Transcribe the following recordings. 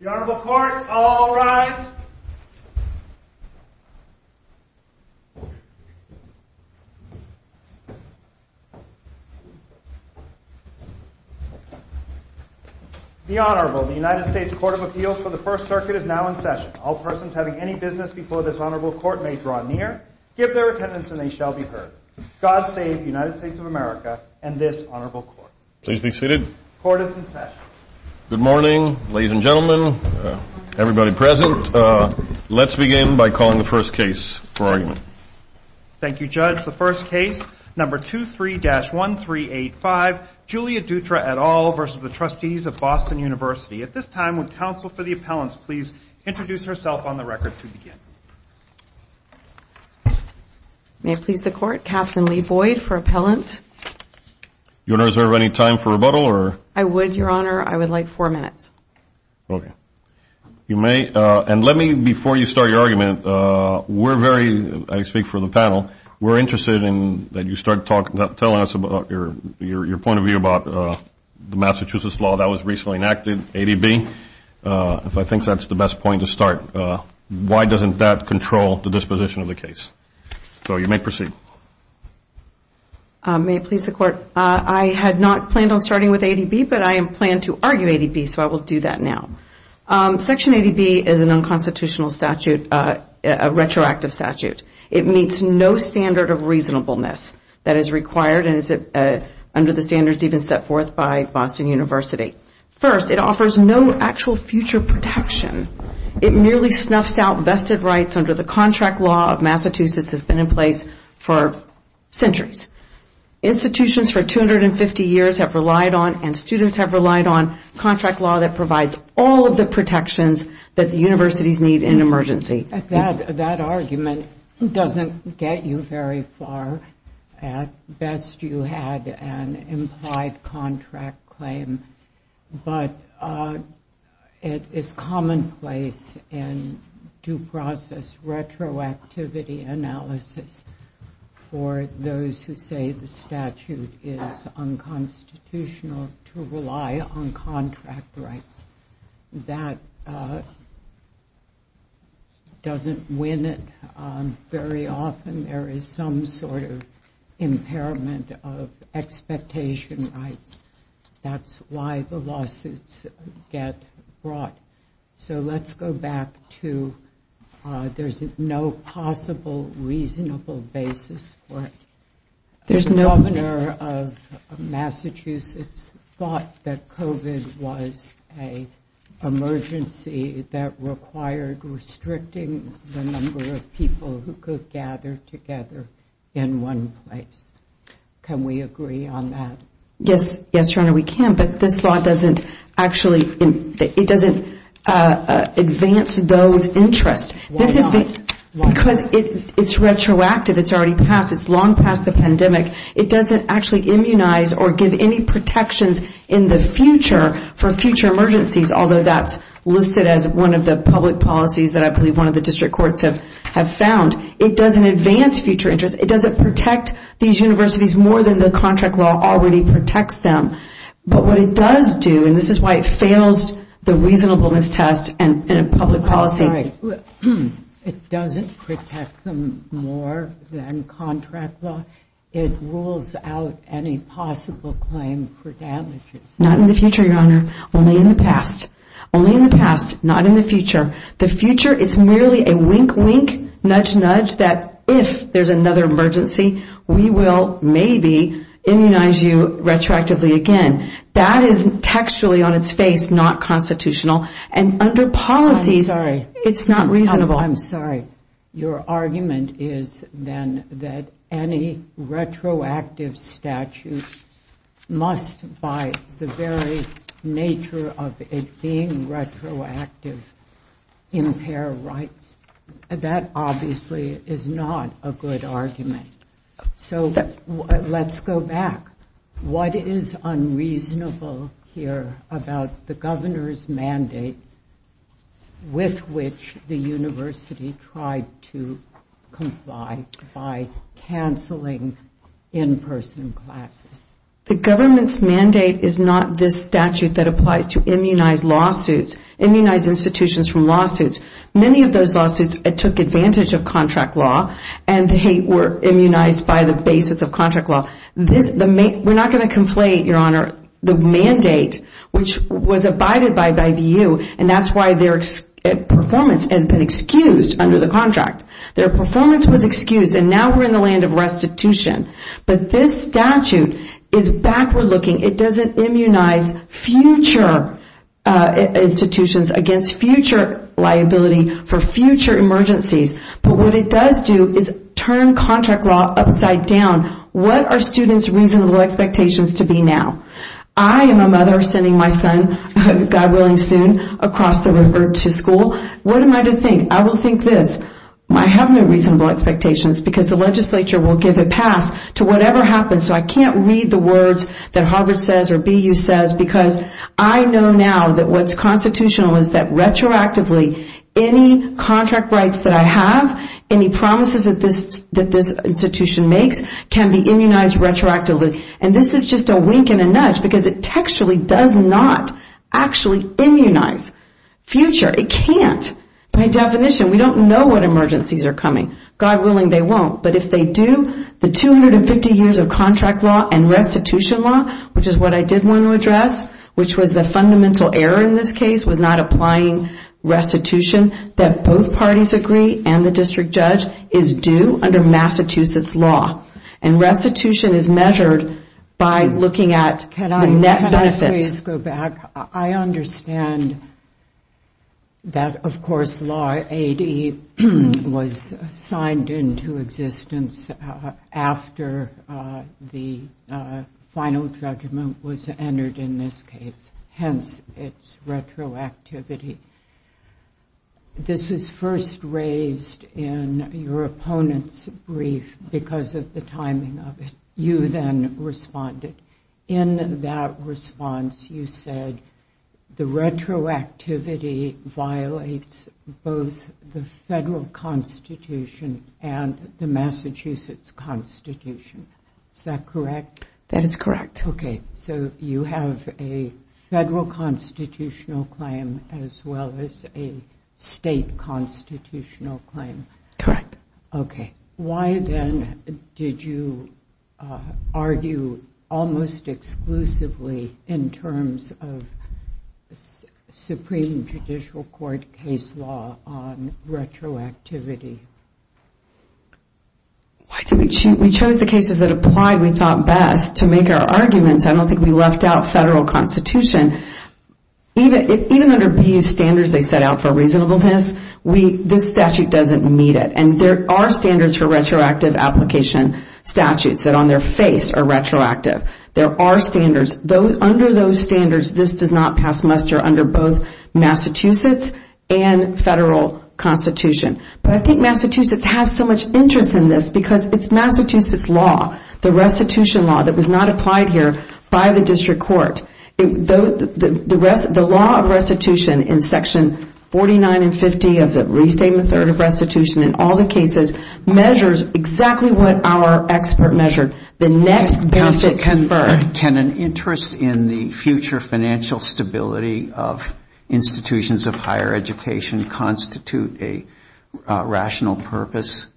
The Honorable Court, all rise. The Honorable, the United States Court of Appeals for the First Circuit is now in session. All persons having any business before this Honorable Court may draw near, give their attendance, and they shall be heard. God save the United States of America and this Honorable Court. Please be seated. Court is in session. Good morning, ladies and gentlemen, everybody present. Let's begin by calling the first case for argument. Thank you, Judge. The first case, number 23-1385, Julia Dutra et al. v. Trustees of Boston University. At this time, would counsel for the appellants please introduce herself on the record to begin? May it please the Court, Catherine Lee Boyd for appellants. Your Honor, is there any time for rebuttal? I would, Your Honor. I would like four minutes. Okay. You may, and let me, before you start your argument, we're very, I speak for the panel, we're interested in that you start telling us about your point of view about the Massachusetts law that was recently enacted, ADB, if I think that's the best point to start. Why doesn't that control the disposition of the case? So you may proceed. May it please the Court. I had not planned on starting with ADB, but I plan to argue ADB, so I will do that now. Section ADB is an unconstitutional statute, a retroactive statute. It meets no standard of reasonableness that is required and is under the standards even set forth by Boston University. First, it offers no actual future protection. It merely snuffs out vested rights under the contract law of Massachusetts that's been in place for centuries. Institutions for 250 years have relied on, and students have relied on, contract law that provides all of the protections that the universities need in an emergency. That argument doesn't get you very far. At best, you had an implied contract claim, but it is commonplace in due process retroactivity analysis for those who say the statute is unconstitutional to rely on contract rights. That doesn't win it. Very often there is some sort of impairment of expectation rights. That's why the lawsuits get brought. Let's go back to there's no possible reasonable basis for it. The governor of Massachusetts thought that COVID was an emergency that required restricting the number of people who could gather together in one place. Can we agree on that? Yes, we can, but this law doesn't advance those interests. Because it's retroactive, it's long past the pandemic, it doesn't actually immunize or give any protections in the future for future emergencies, although that's listed as one of the public policies that one of the district courts have found. It doesn't advance future interests. It doesn't protect these universities more than the contract law already protects them. But what it does do, and this is why it fails the reasonableness test in a public policy. It doesn't protect them more than contract law. It rules out any possible claim for damages. Not in the future, Your Honor, only in the past. The future is merely a wink, wink, nudge, nudge that if there's another emergency, we will maybe immunize you retroactively again. That is textually on its face, not constitutional. And under policies, it's not reasonable. Oh, I'm sorry. Your argument is then that any retroactive statute must, by the very nature of it being retroactive, impair rights. That obviously is not a good argument. So let's go back. What is unreasonable here about the governor's mandate with which the university tried to comply by canceling in-person classes? The government's mandate is not this statute that applies to immunize lawsuits, immunize institutions from lawsuits. Many of those lawsuits took advantage of contract law, and they were immunized by the basis of contract law. We're not going to conflate, Your Honor, the mandate, which was abided by by the EU, and that's why their performance has been excused under the contract. Their performance was excused, and now we're in the land of restitution. But this statute is backward-looking. It doesn't immunize future institutions against future liability for future emergencies. But what it does do is turn contract law upside down. What are students' reasonable expectations to be now? I am a mother sending my son, God willing soon, across the river to school. What am I to think? I have no reasonable expectations, because the legislature will give a pass to whatever happens. So I can't read the words that Harvard says or BU says, because I know now that what's constitutional is that retroactively any contract rights that I have, any promises that this institution makes, can be immunized retroactively. And this is just a wink and a nudge, because it textually does not actually immunize future. It can't. By definition, we don't know what emergencies are coming. God willing, they won't. But if they do, the 250 years of contract law and restitution law, which is what I did want to address, which was the fundamental error in this case, was not applying restitution, that both parties agree and the district judge is due under Massachusetts law. And restitution is measured by looking at the net benefits. Can I please go back? I understand that, of course, law 80 was signed into existence after the final judgment was entered in this case, hence its retroactivity. This was first raised in your opponent's brief, because of the timing of it. You then responded. In that response, you said the retroactivity violates both the federal constitution and the Massachusetts constitution. Is that correct? That is correct. Okay, so you have a federal constitutional claim as well as a state constitutional claim. Correct. Why, then, did you argue almost exclusively in terms of supreme judicial court case law on retroactivity? We chose the cases that applied, we thought, best to make our arguments. I don't think we left out federal constitution. There are standards for retroactive application statutes that on their face are retroactive. Under those standards, this does not pass muster under both Massachusetts and federal constitution. But I think Massachusetts has so much interest in this because it's Massachusetts law, the restitution law that was not applied here by the district court. The law of restitution in section 49 and 50 of the Restatement Authority of Restitution in Massachusetts measures exactly what our expert measured, the net benefit conferred. Can an interest in the future financial stability of institutions of higher education constitute a rational purpose?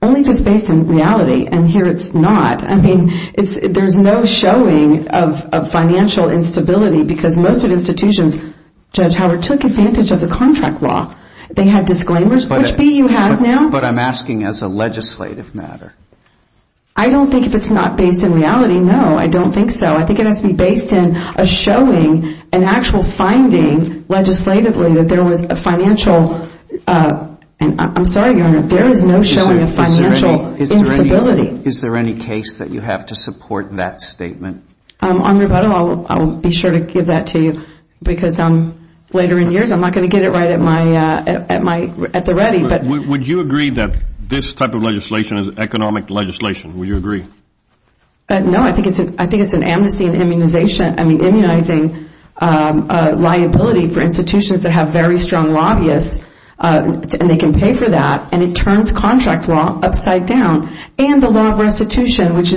Only if it's based in reality, and here it's not. I mean, there's no showing of financial instability because most of the institutions, Judge Howard, took advantage of the contract law. They had disclaimers, which BU has now. But I'm asking as a legislative matter. I don't think if it's not based in reality, no, I don't think so. I think it has to be based in a showing, an actual finding legislatively that there was a financial and I'm sorry, Your Honor, there is no showing of financial instability. Is there any case that you have to support that statement? I'll be sure to give that to you because later in years I'm not going to get it right at the ready. Would you agree that this type of legislation is economic legislation? Would you agree? No, I think it's an amnesty and immunization, I mean, immunizing liability for institutions that have very strong lobbyists and they can pay for that and it turns contract law upside down and the law of restitution, which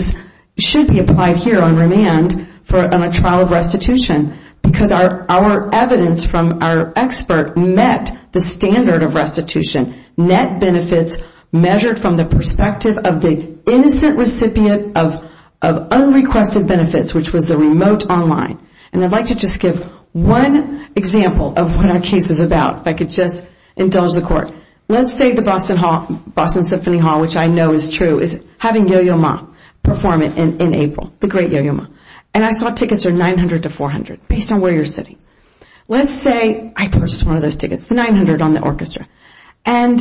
should be applied here on remand for a trial of restitution because our evidence from our expert met the standard of restitution. Net benefits measured from the perspective of the innocent recipient of unrequested benefits, which was the remote online and I'd like to just give one example of what our case is about. If I could just indulge the court, let's say the Boston Symphony Hall, which I know is true, is having Yo-Yo Ma perform it in April, the great Yo-Yo Ma, and I saw tickets are $900 to $400 based on where you're sitting. Let's say I purchased one of those tickets for $900 on the orchestra and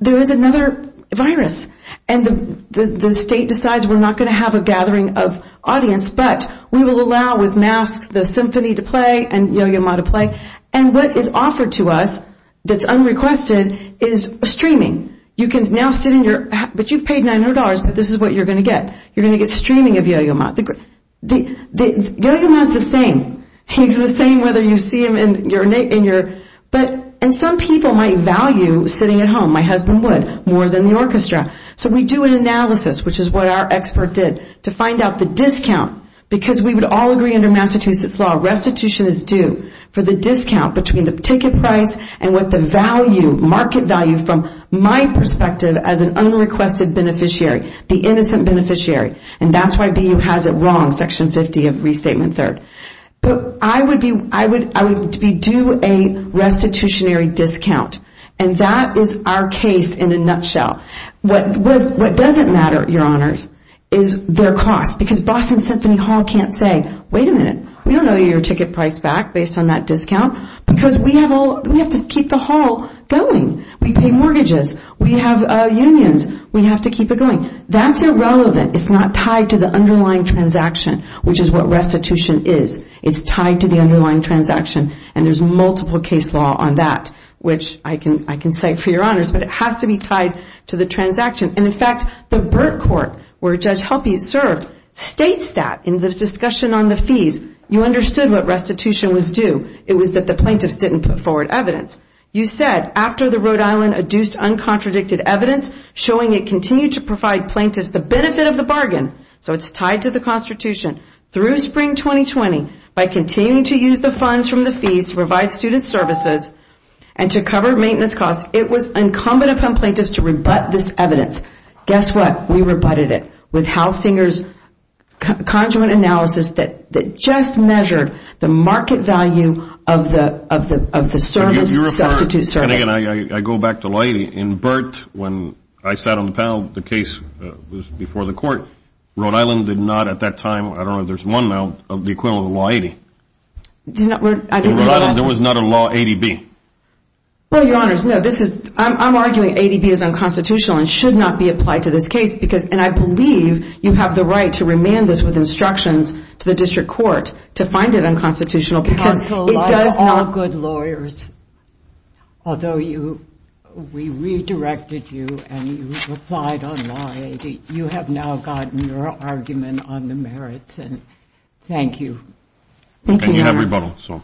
there is another virus and the state decides we're not going to have a gathering of audience but we will allow with masks the symphony to play and Yo-Yo Ma to play and what is offered to us that's unrequested is streaming. You can now sit in your, but you've paid $900 but this is what you're going to get. You're going to get streaming of Yo-Yo Ma. Yo-Yo Ma is the same, he's the same whether you see him in your, and some people might value sitting at home, my husband would, more than the orchestra. So we do an analysis, which is what our expert did, to find out the discount because we would all agree under Massachusetts law restitution is due for the discount between the ticket price and what the market value from my perspective as an unrequested beneficiary, the innocent beneficiary, and that's why BU has it wrong, Section 50 of Restatement 3rd. I would be due a restitutionary discount and that is our case in a nutshell. What doesn't matter, your honors, is their cost because Boston Symphony Hall can't say, wait a minute, we don't know your ticket price back based on that discount because we have to keep the hall going, we pay mortgages, we have unions, we have to keep it going. That's irrelevant, it's not tied to the underlying transaction, which is what restitution is. It's tied to the underlying transaction and there's multiple case law on that, which I can say for your honors, but it has to be tied to the transaction. In fact, the Burt Court, where Judge Halpy served, states that in the discussion on the fees, you understood what restitution was due, it was that the plaintiffs didn't put forward evidence. You said, after the Rhode Island adduced uncontradicted evidence, showing it continued to provide plaintiffs the benefit of the bargain, so it's tied to the Constitution, through Spring 2020, by continuing to use the funds from the fees to provide student services and to cover maintenance costs, it was incumbent upon plaintiffs to rebut this evidence. Guess what? We rebutted it with Hal Singer's conjugate analysis that just measured the market value of the substitute service. And again, I go back to Laity. In Burt, when I sat on the panel, the case was before the court. Rhode Island did not at that time, I don't know if there's one now, of the equivalent of Law 80. There was not a Law 80B. Well, Your Honors, I'm arguing 80B is unconstitutional and should not be applied to this case, and I believe you have the right to remand this with instructions to the District Court to find it unconstitutional because it does not... Counsel, like all good lawyers, although we redirected you and you replied on Law 80, you have now gotten your argument on the merits, and thank you. And you have rebuttal, so.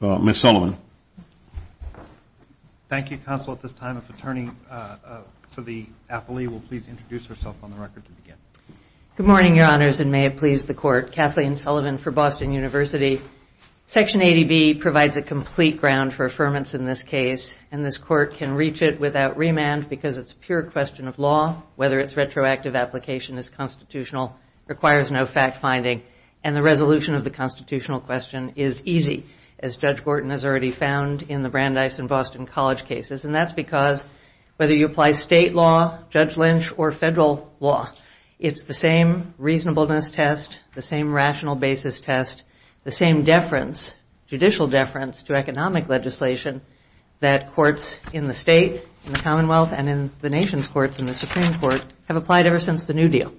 Ms. Sullivan. Thank you, Counsel. At this time, if the attorney for the appellee will please introduce herself on the record to begin. Good morning, Your Honors, and may it please the Court. Kathleen Sullivan for Boston University. Section 80B provides a complete ground for affirmance in this case, and this Court can reach it without remand because it's a pure question of law, whether its retroactive application is constitutional, requires no fact-finding, and the resolution of the constitutional question is easy, as Judge Gorton has already found in the Brandeis and Boston College cases, and that's because whether you apply state law, Judge Lynch, or federal law, it's the same reasonableness test, the same rational basis test, the same deference, judicial deference to economic legislation that courts in the state, in the Commonwealth, and in the nation's courts and the Supreme Court have applied ever since the New Deal.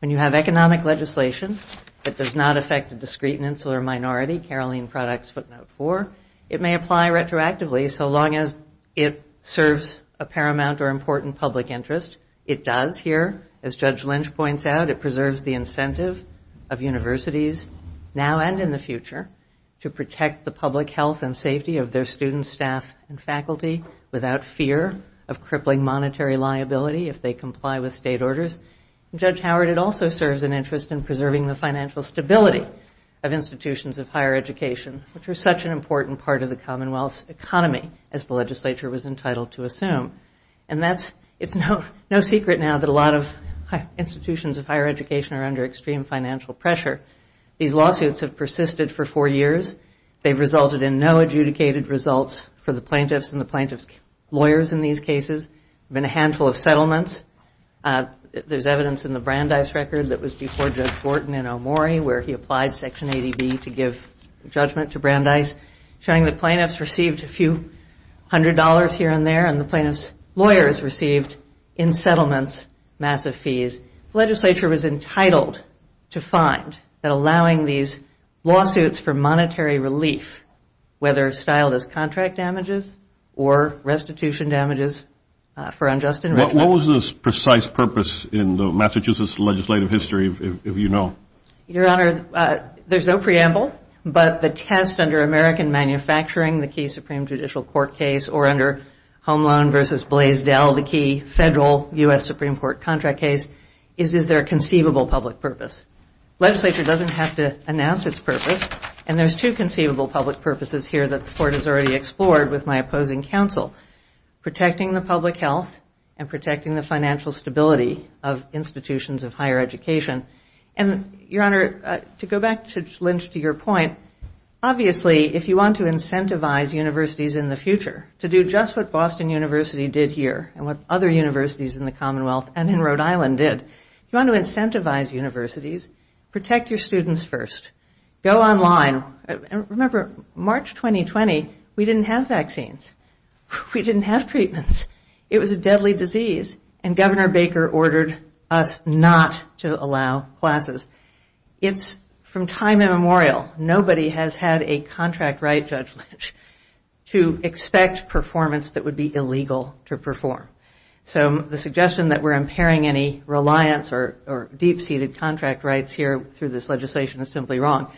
When you have economic legislation that does not affect a discreet and insular minority, Caroline Product's footnote 4, it may apply retroactively so long as it serves a paramount or important public interest. It does here. As Judge Lynch points out, it preserves the incentive of universities now and in the future to protect the public health and safety of their students, staff, and faculty without fear of crippling monetary liability if they comply with state orders. And, Judge Howard, it also serves an interest in preserving the financial stability of institutions of higher education, which are such an important part of the Commonwealth's economy, as the legislature was entitled to assume. And it's no secret now that a lot of institutions of higher education are under extreme financial pressure. These lawsuits have persisted for four years. They've resulted in no adjudicated results for the plaintiffs and the plaintiffs' lawyers in these cases. There have been a handful of settlements. There's evidence in the Brandeis record that was before Judge Wharton in Omori where he applied Section 80B to give judgment to Brandeis, showing that plaintiffs received a few hundred dollars here and there and the plaintiffs' lawyers received, in settlements, massive fees. The legislature was entitled to find that allowing these lawsuits for monetary relief, whether styled as contract damages or restitution damages for unjust enrichment. What was the precise purpose in the Massachusetts legislative history, if you know? Your Honor, there's no preamble, but the test under American Manufacturing, the key Supreme Judicial Court case, or under Home Loan v. Blaisdell, the key federal U.S. Supreme Court contract case, is, is there a conceivable public purpose? Legislature doesn't have to announce its purpose, and there's two conceivable public purposes here that the Court has already explored with my opposing counsel, protecting the public health and protecting the financial stability of institutions of higher education. And, Your Honor, to go back to Lynch to your point, obviously if you want to incentivize universities in the future to do just what Boston University did here and what other universities in the Commonwealth and in Rhode Island did, if you want to incentivize universities, protect your students first. Go online. Remember, March 2020, we didn't have vaccines. We didn't have treatments. It was a deadly disease, and Governor Baker ordered us not to allow classes. It's from time immemorial, nobody has had a contract right, Judge Lynch, to expect performance that would be illegal to perform. So the suggestion that we're impairing any reliance or deep-seated contract rights here through this legislation is simply wrong.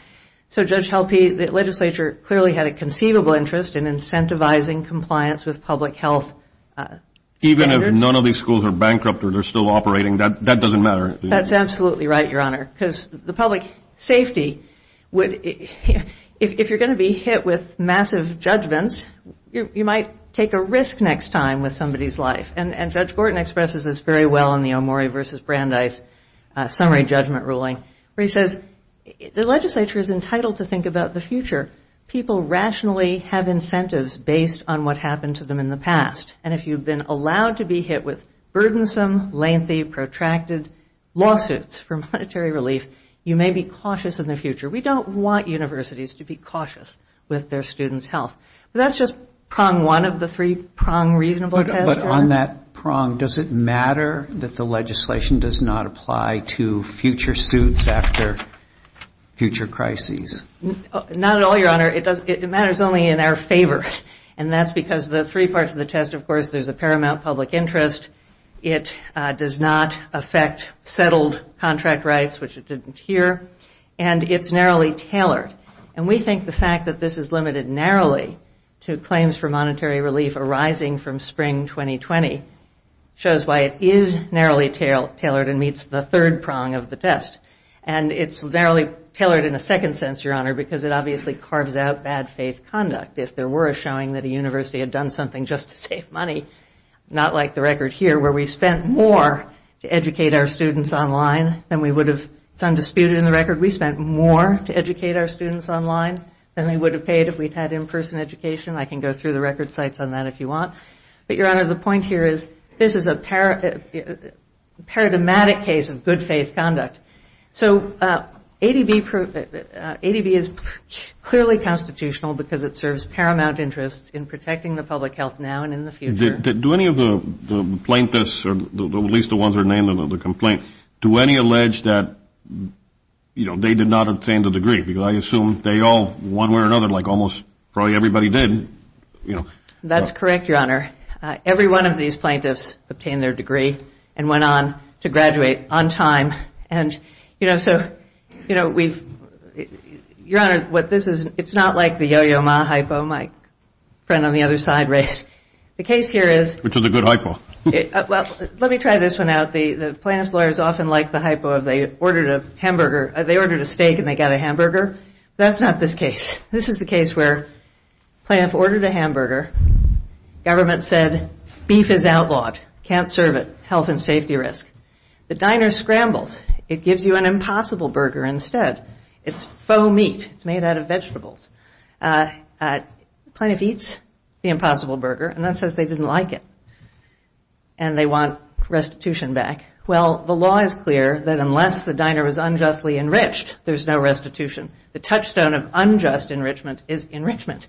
So, Judge Helpe, the legislature clearly had a conceivable interest in incentivizing compliance with public health standards. Even if none of these schools are bankrupt or they're still operating, that doesn't matter. That's absolutely right, Your Honor, because the public safety would, if you're going to be hit with massive judgments, you might take a risk next time with somebody's life. And Judge Borton expresses this very well in the Omori v. Brandeis summary judgment ruling, where he says the legislature is entitled to think about the future. People rationally have incentives based on what happened to them in the past. And if you've been allowed to be hit with burdensome, lengthy, protracted lawsuits for monetary relief, you may be cautious in the future. We don't want universities to be cautious with their students' health. That's just prong one of the three prong reasonable tests. But on that prong, does it matter that the legislation does not apply to future suits after future crises? Not at all, Your Honor. It matters only in our favor, and that's because the three parts of the test, of course, there's a paramount public interest, it does not affect settled contract rights, which it didn't here, and it's narrowly tailored. And we think the fact that this is limited narrowly to claims for monetary relief arising from spring 2020 shows why it is narrowly tailored and meets the third prong of the test. And it's narrowly tailored in a second sense, Your Honor, because it obviously carves out bad faith conduct. If there were a showing that a university had done something just to save money, not like the record here where we spent more to educate our students online than we would have, it's undisputed in the record, we spent more to educate our students online than we would have paid if we had in-person education. I can go through the record sites on that if you want. But, Your Honor, the point here is this is a paradigmatic case of good faith conduct. So ADB is clearly constitutional because it serves paramount interests in protecting the public health now and in the future. Do any of the plaintiffs, or at least the ones that are named in the complaint, do any allege that, you know, they did not obtain the degree? Because I assume they all, one way or another, like almost probably everybody did. That's correct, Your Honor. Every one of these plaintiffs obtained their degree and went on to graduate on time. And, you know, so, you know, we've, Your Honor, what this is, it's not like the yo-yo ma hypo, my friend on the other side raised. The case here is. Which is a good hypo. Let me try this one out. The plaintiff's lawyers often like the hypo of they ordered a hamburger. They ordered a steak and they got a hamburger. That's not this case. This is the case where the plaintiff ordered a hamburger. Government said beef is outlawed, can't serve it, health and safety risk. The diner scrambles. It gives you an impossible burger instead. It's faux meat. It's made out of vegetables. The plaintiff eats the impossible burger and then says they didn't like it and they want restitution back. Well, the law is clear that unless the diner is unjustly enriched, there's no restitution. The touchstone of unjust enrichment is enrichment.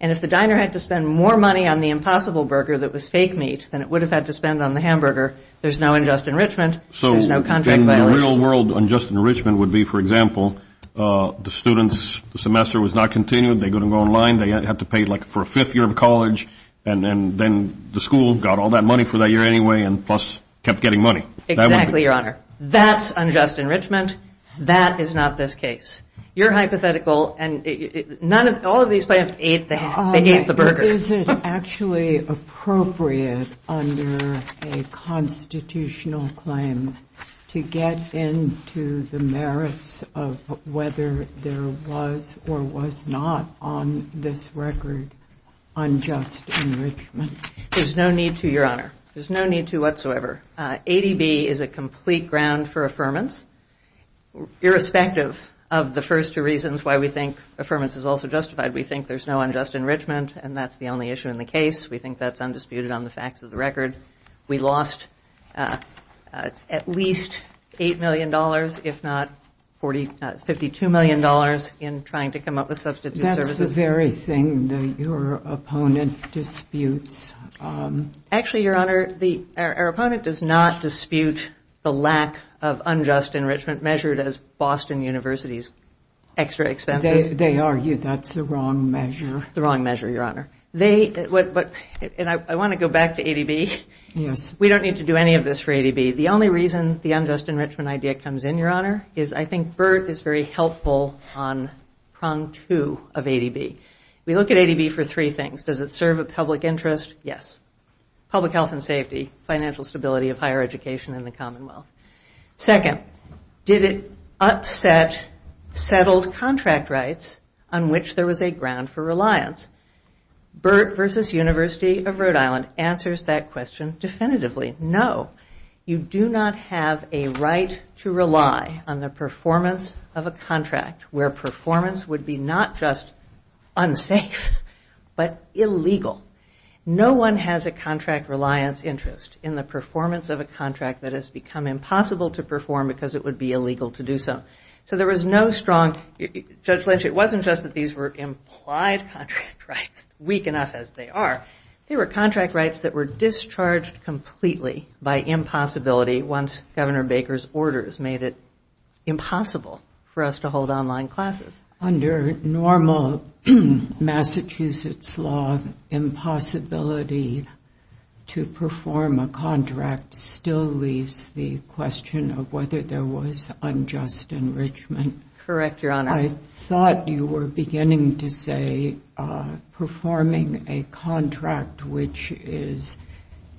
And if the diner had to spend more money on the impossible burger that was fake meat than it would have had to spend on the hamburger, there's no unjust enrichment, there's no contract violation. So in the real world, unjust enrichment would be, for example, the students' semester was not continued. They couldn't go online. They had to pay like for a fifth year of college. And then the school got all that money for that year anyway and plus kept getting money. Exactly, Your Honor. That's unjust enrichment. That is not this case. Your hypothetical and none of all of these plans ate the hamburger. Is it actually appropriate under a constitutional claim to get into the merits of whether there was or was not on this record unjust enrichment? There's no need to, Your Honor. There's no need to whatsoever. ADB is a complete ground for affirmance. Irrespective of the first two reasons why we think affirmance is also justified, we think there's no unjust enrichment and that's the only issue in the case. We think that's undisputed on the facts of the record. We lost at least $8 million, if not $52 million, in trying to come up with substitute services. That's the very thing that your opponent disputes. Actually, Your Honor, our opponent does not dispute the lack of unjust enrichment measured as Boston University's extra expenses. They argue that's the wrong measure. The wrong measure, Your Honor. I want to go back to ADB. We don't need to do any of this for ADB. The only reason the unjust enrichment idea comes in, Your Honor, is I think BERT is very helpful on prong two of ADB. We look at ADB for three things. Does it serve a public interest? Yes. Public health and safety, financial stability of higher education in the Commonwealth. Second, did it upset settled contract rights on which there was a ground for reliance? BERT versus University of Rhode Island answers that question definitively, no. You do not have a right to rely on the performance of a contract where performance would be not just unsafe but illegal. No one has a contract reliance interest in the performance of a contract that has become impossible to perform because it would be illegal to do so. So there was no strong, Judge Lynch, it wasn't just that these were implied contract rights, weak enough as they are. They were contract rights that were discharged completely by impossibility once Governor Baker's orders made it impossible for us to hold online classes. Under normal Massachusetts law, impossibility to perform a contract still leaves the question of whether there was unjust enrichment. Correct, Your Honor. I thought you were beginning to say performing a contract which is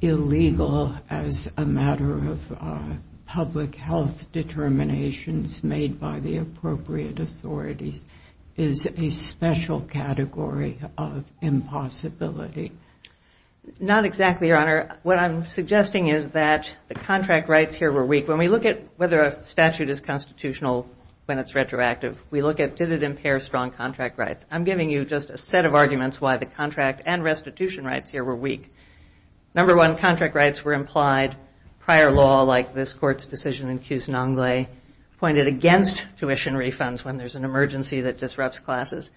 illegal as a matter of public health determinations made by the appropriate authorities is a special category of impossibility. Not exactly, Your Honor. What I'm suggesting is that the contract rights here were weak. When we look at whether a statute is constitutional when it's retroactive, we look at did it impair strong contract rights. I'm giving you just a set of arguments why the contract and restitution rights here were weak. Number one, contract rights were implied prior law like this court's decision in Cuse Non Gle, pointed against tuition refunds when there's an emergency that disrupts classes.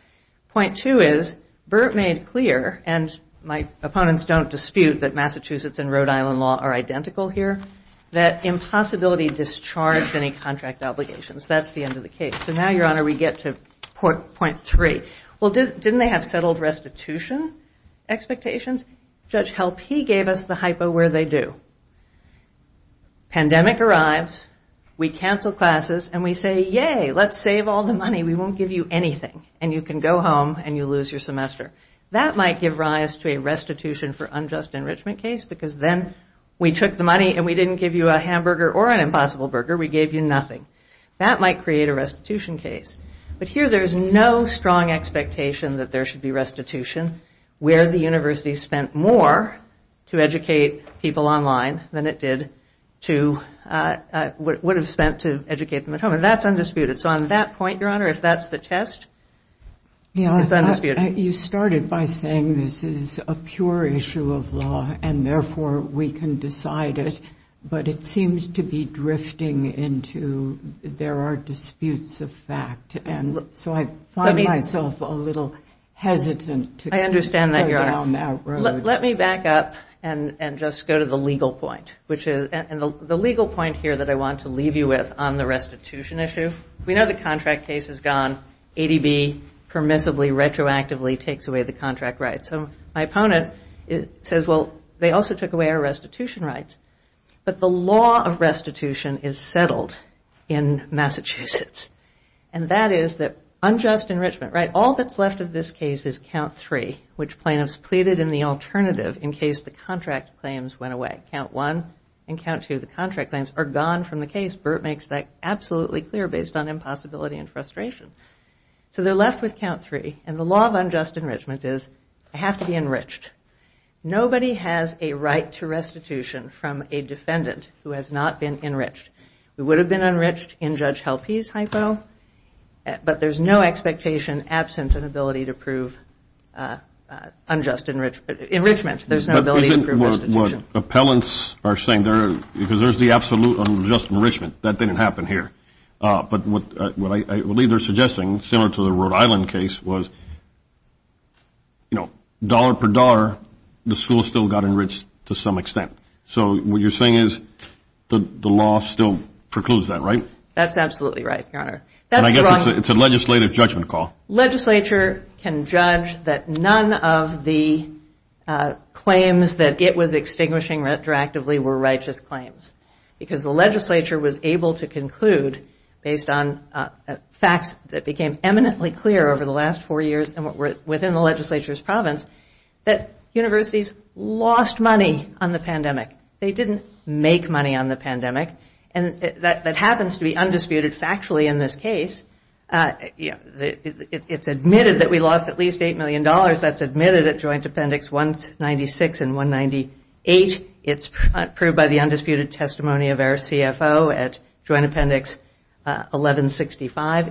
Point two is, Burt made clear, and my opponents don't dispute that Massachusetts and Rhode Island law are identical here, that impossibility discharged any contract obligations. That's the end of the case. So now, Your Honor, we get to point three. Well, didn't they have settled restitution expectations? Judge Helpe gave us the hypo where they do. Pandemic arrives, we cancel classes, and we say, yay, let's save all the money. We won't give you anything. And you can go home and you lose your semester. That might give rise to a restitution for unjust enrichment case because then we took the money and we didn't give you a hamburger or an impossible burger. We gave you nothing. That might create a restitution case. But here there's no strong expectation that there should be restitution where the university spent more to educate people online than it did to what it would have spent to educate them at home. And that's undisputed. So on that point, Your Honor, if that's the test, it's undisputed. You started by saying this is a pure issue of law and therefore we can decide it, but it seems to be drifting into there are disputes of fact. And so I find myself a little hesitant to go down that road. I understand that, Your Honor. Let me back up and just go to the legal point, which is the legal point here that I want to leave you with on the restitution issue. We know the contract case is gone. ADB permissibly retroactively takes away the contract rights. So my opponent says, well, they also took away our restitution rights. But the law of restitution is settled in Massachusetts. And that is that unjust enrichment, right? All that's left of this case is Count 3, which plaintiffs pleaded in the alternative in case the contract claims went away. Count 1 and Count 2, the contract claims, are gone from the case. Burt makes that absolutely clear based on impossibility and frustration. So they're left with Count 3. And the law of unjust enrichment is they have to be enriched. Nobody has a right to restitution from a defendant who has not been enriched. We would have been enriched in Judge Helpe's hypo, but there's no expectation absent an ability to prove unjust enrichment. There's no ability to prove restitution. But isn't what appellants are saying, because there's the absolute unjust enrichment. That didn't happen here. But what I believe they're suggesting, similar to the Rhode Island case, was dollar per dollar the school still got enriched to some extent. So what you're saying is the law still precludes that, right? That's absolutely right, Your Honor. And I guess it's a legislative judgment call. Legislature can judge that none of the claims that it was extinguishing retroactively were righteous claims because the legislature was able to conclude, based on facts that became eminently clear over the last four years and within the legislature's province, that universities lost money on the pandemic. They didn't make money on the pandemic. And that happens to be undisputed factually in this case. It's admitted that we lost at least $8 million. That's admitted at Joint Appendix 196 and 198. It's proved by the undisputed testimony of our CFO at Joint Appendix 1165.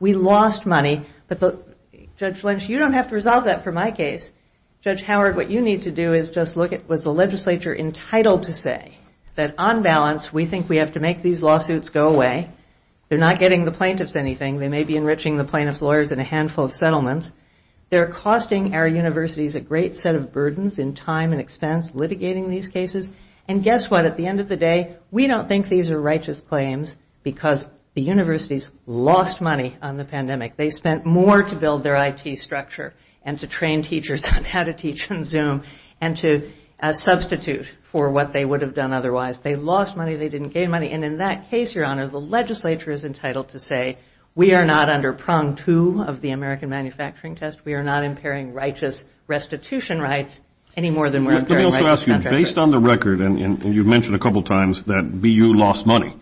We lost money. Judge Lynch, you don't have to resolve that for my case. Judge Howard, what you need to do is just look at was the legislature entitled to say that on balance we think we have to make these lawsuits go away. They're not getting the plaintiffs anything. They may be enriching the plaintiffs' lawyers in a handful of settlements. They're costing our universities a great set of burdens in time and expense, litigating these cases. And guess what? At the end of the day, we don't think these are righteous claims because the universities lost money on the pandemic. They spent more to build their IT structure and to train teachers on how to teach on Zoom and to substitute for what they would have done otherwise. They lost money. They didn't gain money. And in that case, Your Honor, the legislature is entitled to say we are not under prong two of the American manufacturing test. We are not impairing righteous restitution rights any more than we're impairing righteous contract rights. Let me also ask you, based on the record, and you mentioned a couple of times that BU lost money,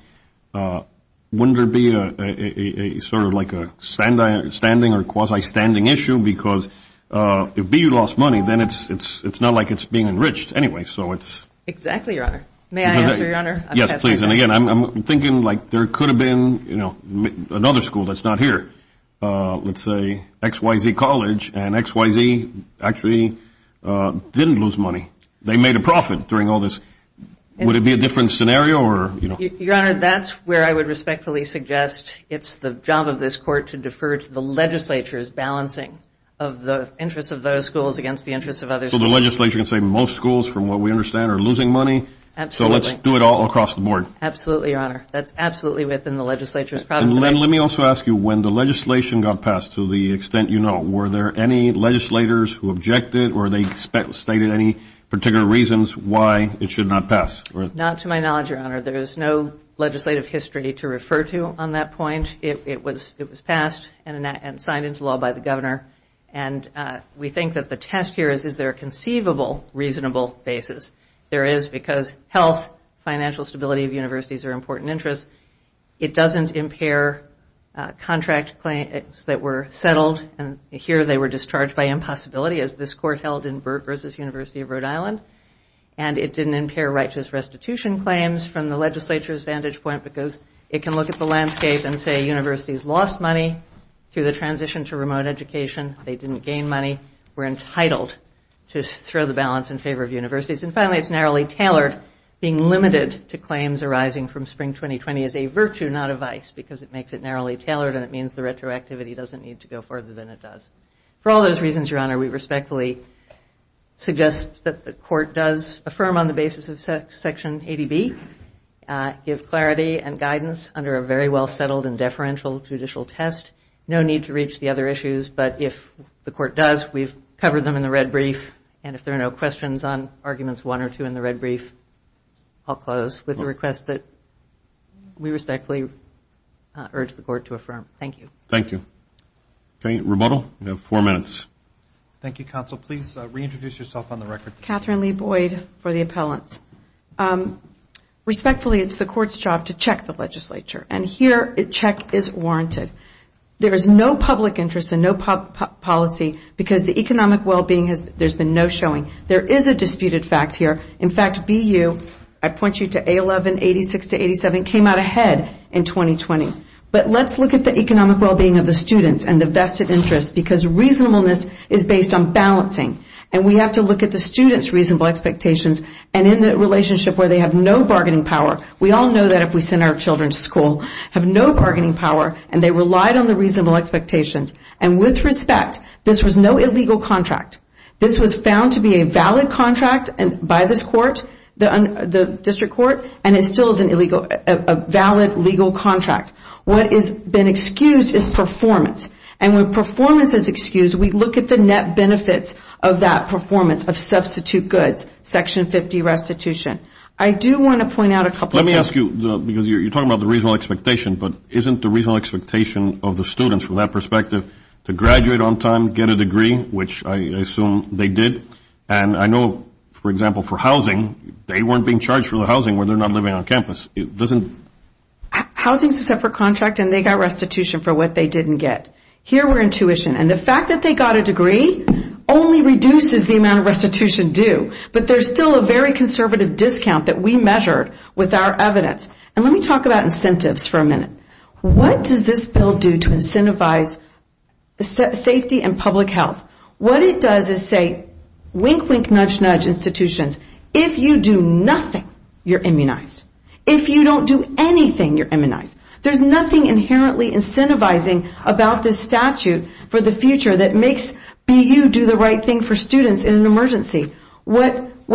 wouldn't there be a sort of like a standing or quasi-standing issue because if BU lost money, then it's not like it's being enriched anyway. Exactly, Your Honor. May I answer, Your Honor? Yes, please. And again, I'm thinking like there could have been another school that's not here. Let's say XYZ College and XYZ actually didn't lose money. They made a profit during all this. Would it be a different scenario or, you know? Your Honor, that's where I would respectfully suggest it's the job of this court to defer to the legislature's balancing of the interests of those schools against the interests of others. So the legislature can say most schools, from what we understand, are losing money. Absolutely. So let's do it all across the board. Absolutely, Your Honor. That's absolutely within the legislature's province. And let me also ask you, when the legislation got passed, to the extent you know, were there any legislators who objected or they stated any particular reasons why it should not pass? Not to my knowledge, Your Honor. There is no legislative history to refer to on that point. It was passed and signed into law by the governor. And we think that the test here is, is there a conceivable reasonable basis? There is because health, financial stability of universities are important interests. It doesn't impair contract claims that were settled, and here they were discharged by impossibility, as this court held in Burt v. University of Rhode Island. And it didn't impair righteous restitution claims from the legislature's vantage point because it can look at the landscape and say universities lost money through the transition to remote education. They didn't gain money. We're entitled to throw the balance in favor of universities. And finally, it's narrowly tailored. Being limited to claims arising from spring 2020 is a virtue, not a vice, because it makes it narrowly tailored, and it means the retroactivity doesn't need to go further than it does. For all those reasons, Your Honor, we respectfully suggest that the court does affirm on the basis of Section 80B, give clarity and guidance under a very well-settled and deferential judicial test. No need to reach the other issues, but if the court does, we've covered them in the red brief. And if there are no questions on arguments one or two in the red brief, I'll close with a request that we respectfully urge the court to affirm. Thank you. Thank you. Okay, rebuttal? You have four minutes. Thank you, counsel. Please reintroduce yourself on the record. Catherine Lee Boyd for the appellants. Respectfully, it's the court's job to check the legislature, and here a check is warranted. There is no public interest and no policy because the economic well-being has there's been no showing. There is a disputed fact here. In fact, BU, I point you to A11, 86 to 87, came out ahead in 2020. But let's look at the economic well-being of the students and the vested interest because reasonableness is based on balancing, and we have to look at the students' reasonable expectations and in the relationship where they have no bargaining power. We all know that if we send our children to school, have no bargaining power, and they relied on the reasonable expectations. And with respect, this was no illegal contract. This was found to be a valid contract by this court, the district court, and it still is a valid legal contract. What has been excused is performance, and when performance is excused, we look at the net benefits of that performance of substitute goods, Section 50 restitution. I do want to point out a couple of things. Let me ask you, because you're talking about the reasonable expectation, but isn't the reasonable expectation of the students from that perspective to graduate on time, get a degree, which I assume they did? And I know, for example, for housing, they weren't being charged for the housing when they're not living on campus. Housing is a separate contract, and they got restitution for what they didn't get. Here we're in tuition, and the fact that they got a degree only reduces the amount of restitution due, but there's still a very conservative discount that we measured with our evidence. Let me talk about incentives for a minute. What does this bill do to incentivize safety and public health? What it does is say, wink, wink, nudge, nudge, institutions, if you do nothing, you're immunized. If you don't do anything, you're immunized. There's nothing inherently incentivizing about this statute for the future that makes BU do the right thing for students in an emergency. But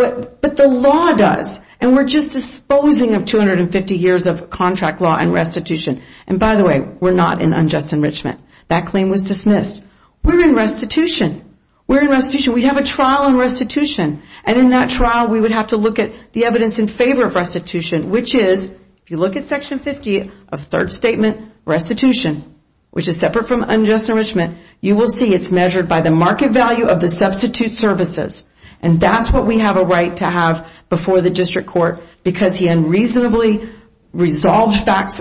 the law does, and we're just disposing of 250 years of contract law and restitution. And by the way, we're not in unjust enrichment. That claim was dismissed. We're in restitution. We have a trial on restitution, and in that trial, we would have to look at the evidence in favor of restitution, which is, if you look at Section 50 of Third Statement Restitution, which is separate from unjust enrichment, you will see it's measured by the market value of the substitute services. And that's what we have a right to have before the district court, because he unreasonably resolved facts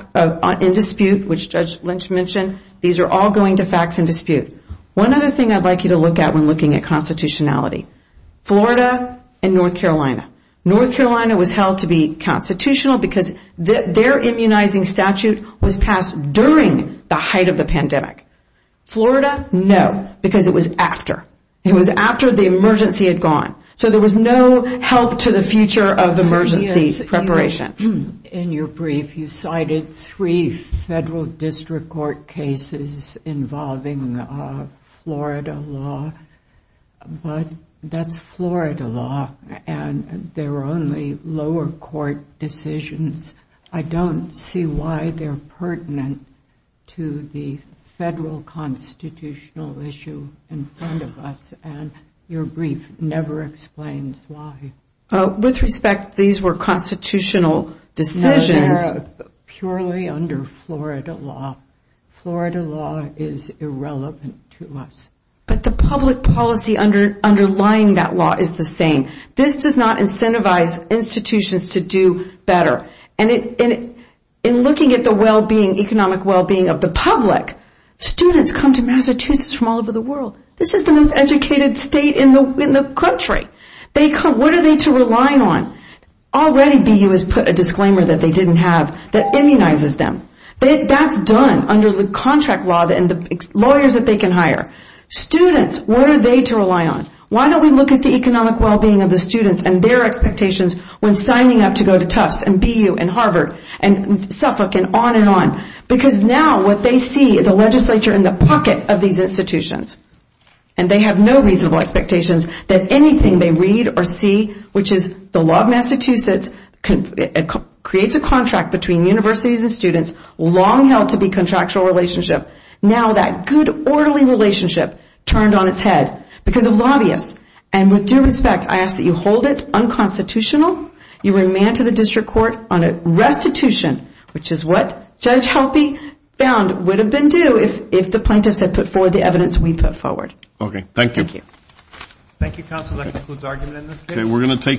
in dispute, which Judge Lynch mentioned. These are all going to facts in dispute. One other thing I'd like you to look at when looking at constitutionality, Florida and North Carolina. North Carolina was held to be constitutional because their immunizing statute was passed during the height of the pandemic. Florida, no, because it was after. It was after the emergency had gone. So there was no help to the future of emergency preparation. In your brief, you cited three federal district court cases involving Florida law, but that's Florida law, and they're only lower court decisions. I don't see why they're pertinent to the federal constitutional issue in front of us, and your brief never explains why. With respect, these were constitutional decisions. No, they're purely under Florida law. Florida law is irrelevant to us. But the public policy underlying that law is the same. This does not incentivize institutions to do better. In looking at the economic well-being of the public, students come to Massachusetts from all over the world. This is the most educated state in the country. What are they to rely on? Already BU has put a disclaimer that they didn't have that immunizes them. That's done under the contract law and the lawyers that they can hire. Students, what are they to rely on? Why don't we look at the economic well-being of the students and their expectations when signing up to go to Tufts and BU and Harvard and Suffolk and on and on? Because now what they see is a legislature in the pocket of these institutions, and they have no reasonable expectations that anything they read or see, which is the law of Massachusetts, creates a contract between universities and students, long held to be contractual relationship. Now that good orderly relationship turned on its head because of lobbyists. And with due respect, I ask that you hold it unconstitutional. You remand to the district court on a restitution, which is what Judge Halpy found would have been due if the plaintiffs had put forward the evidence we put forward. Okay, thank you. Thank you. Thank you, counsel. That concludes the argument in this case.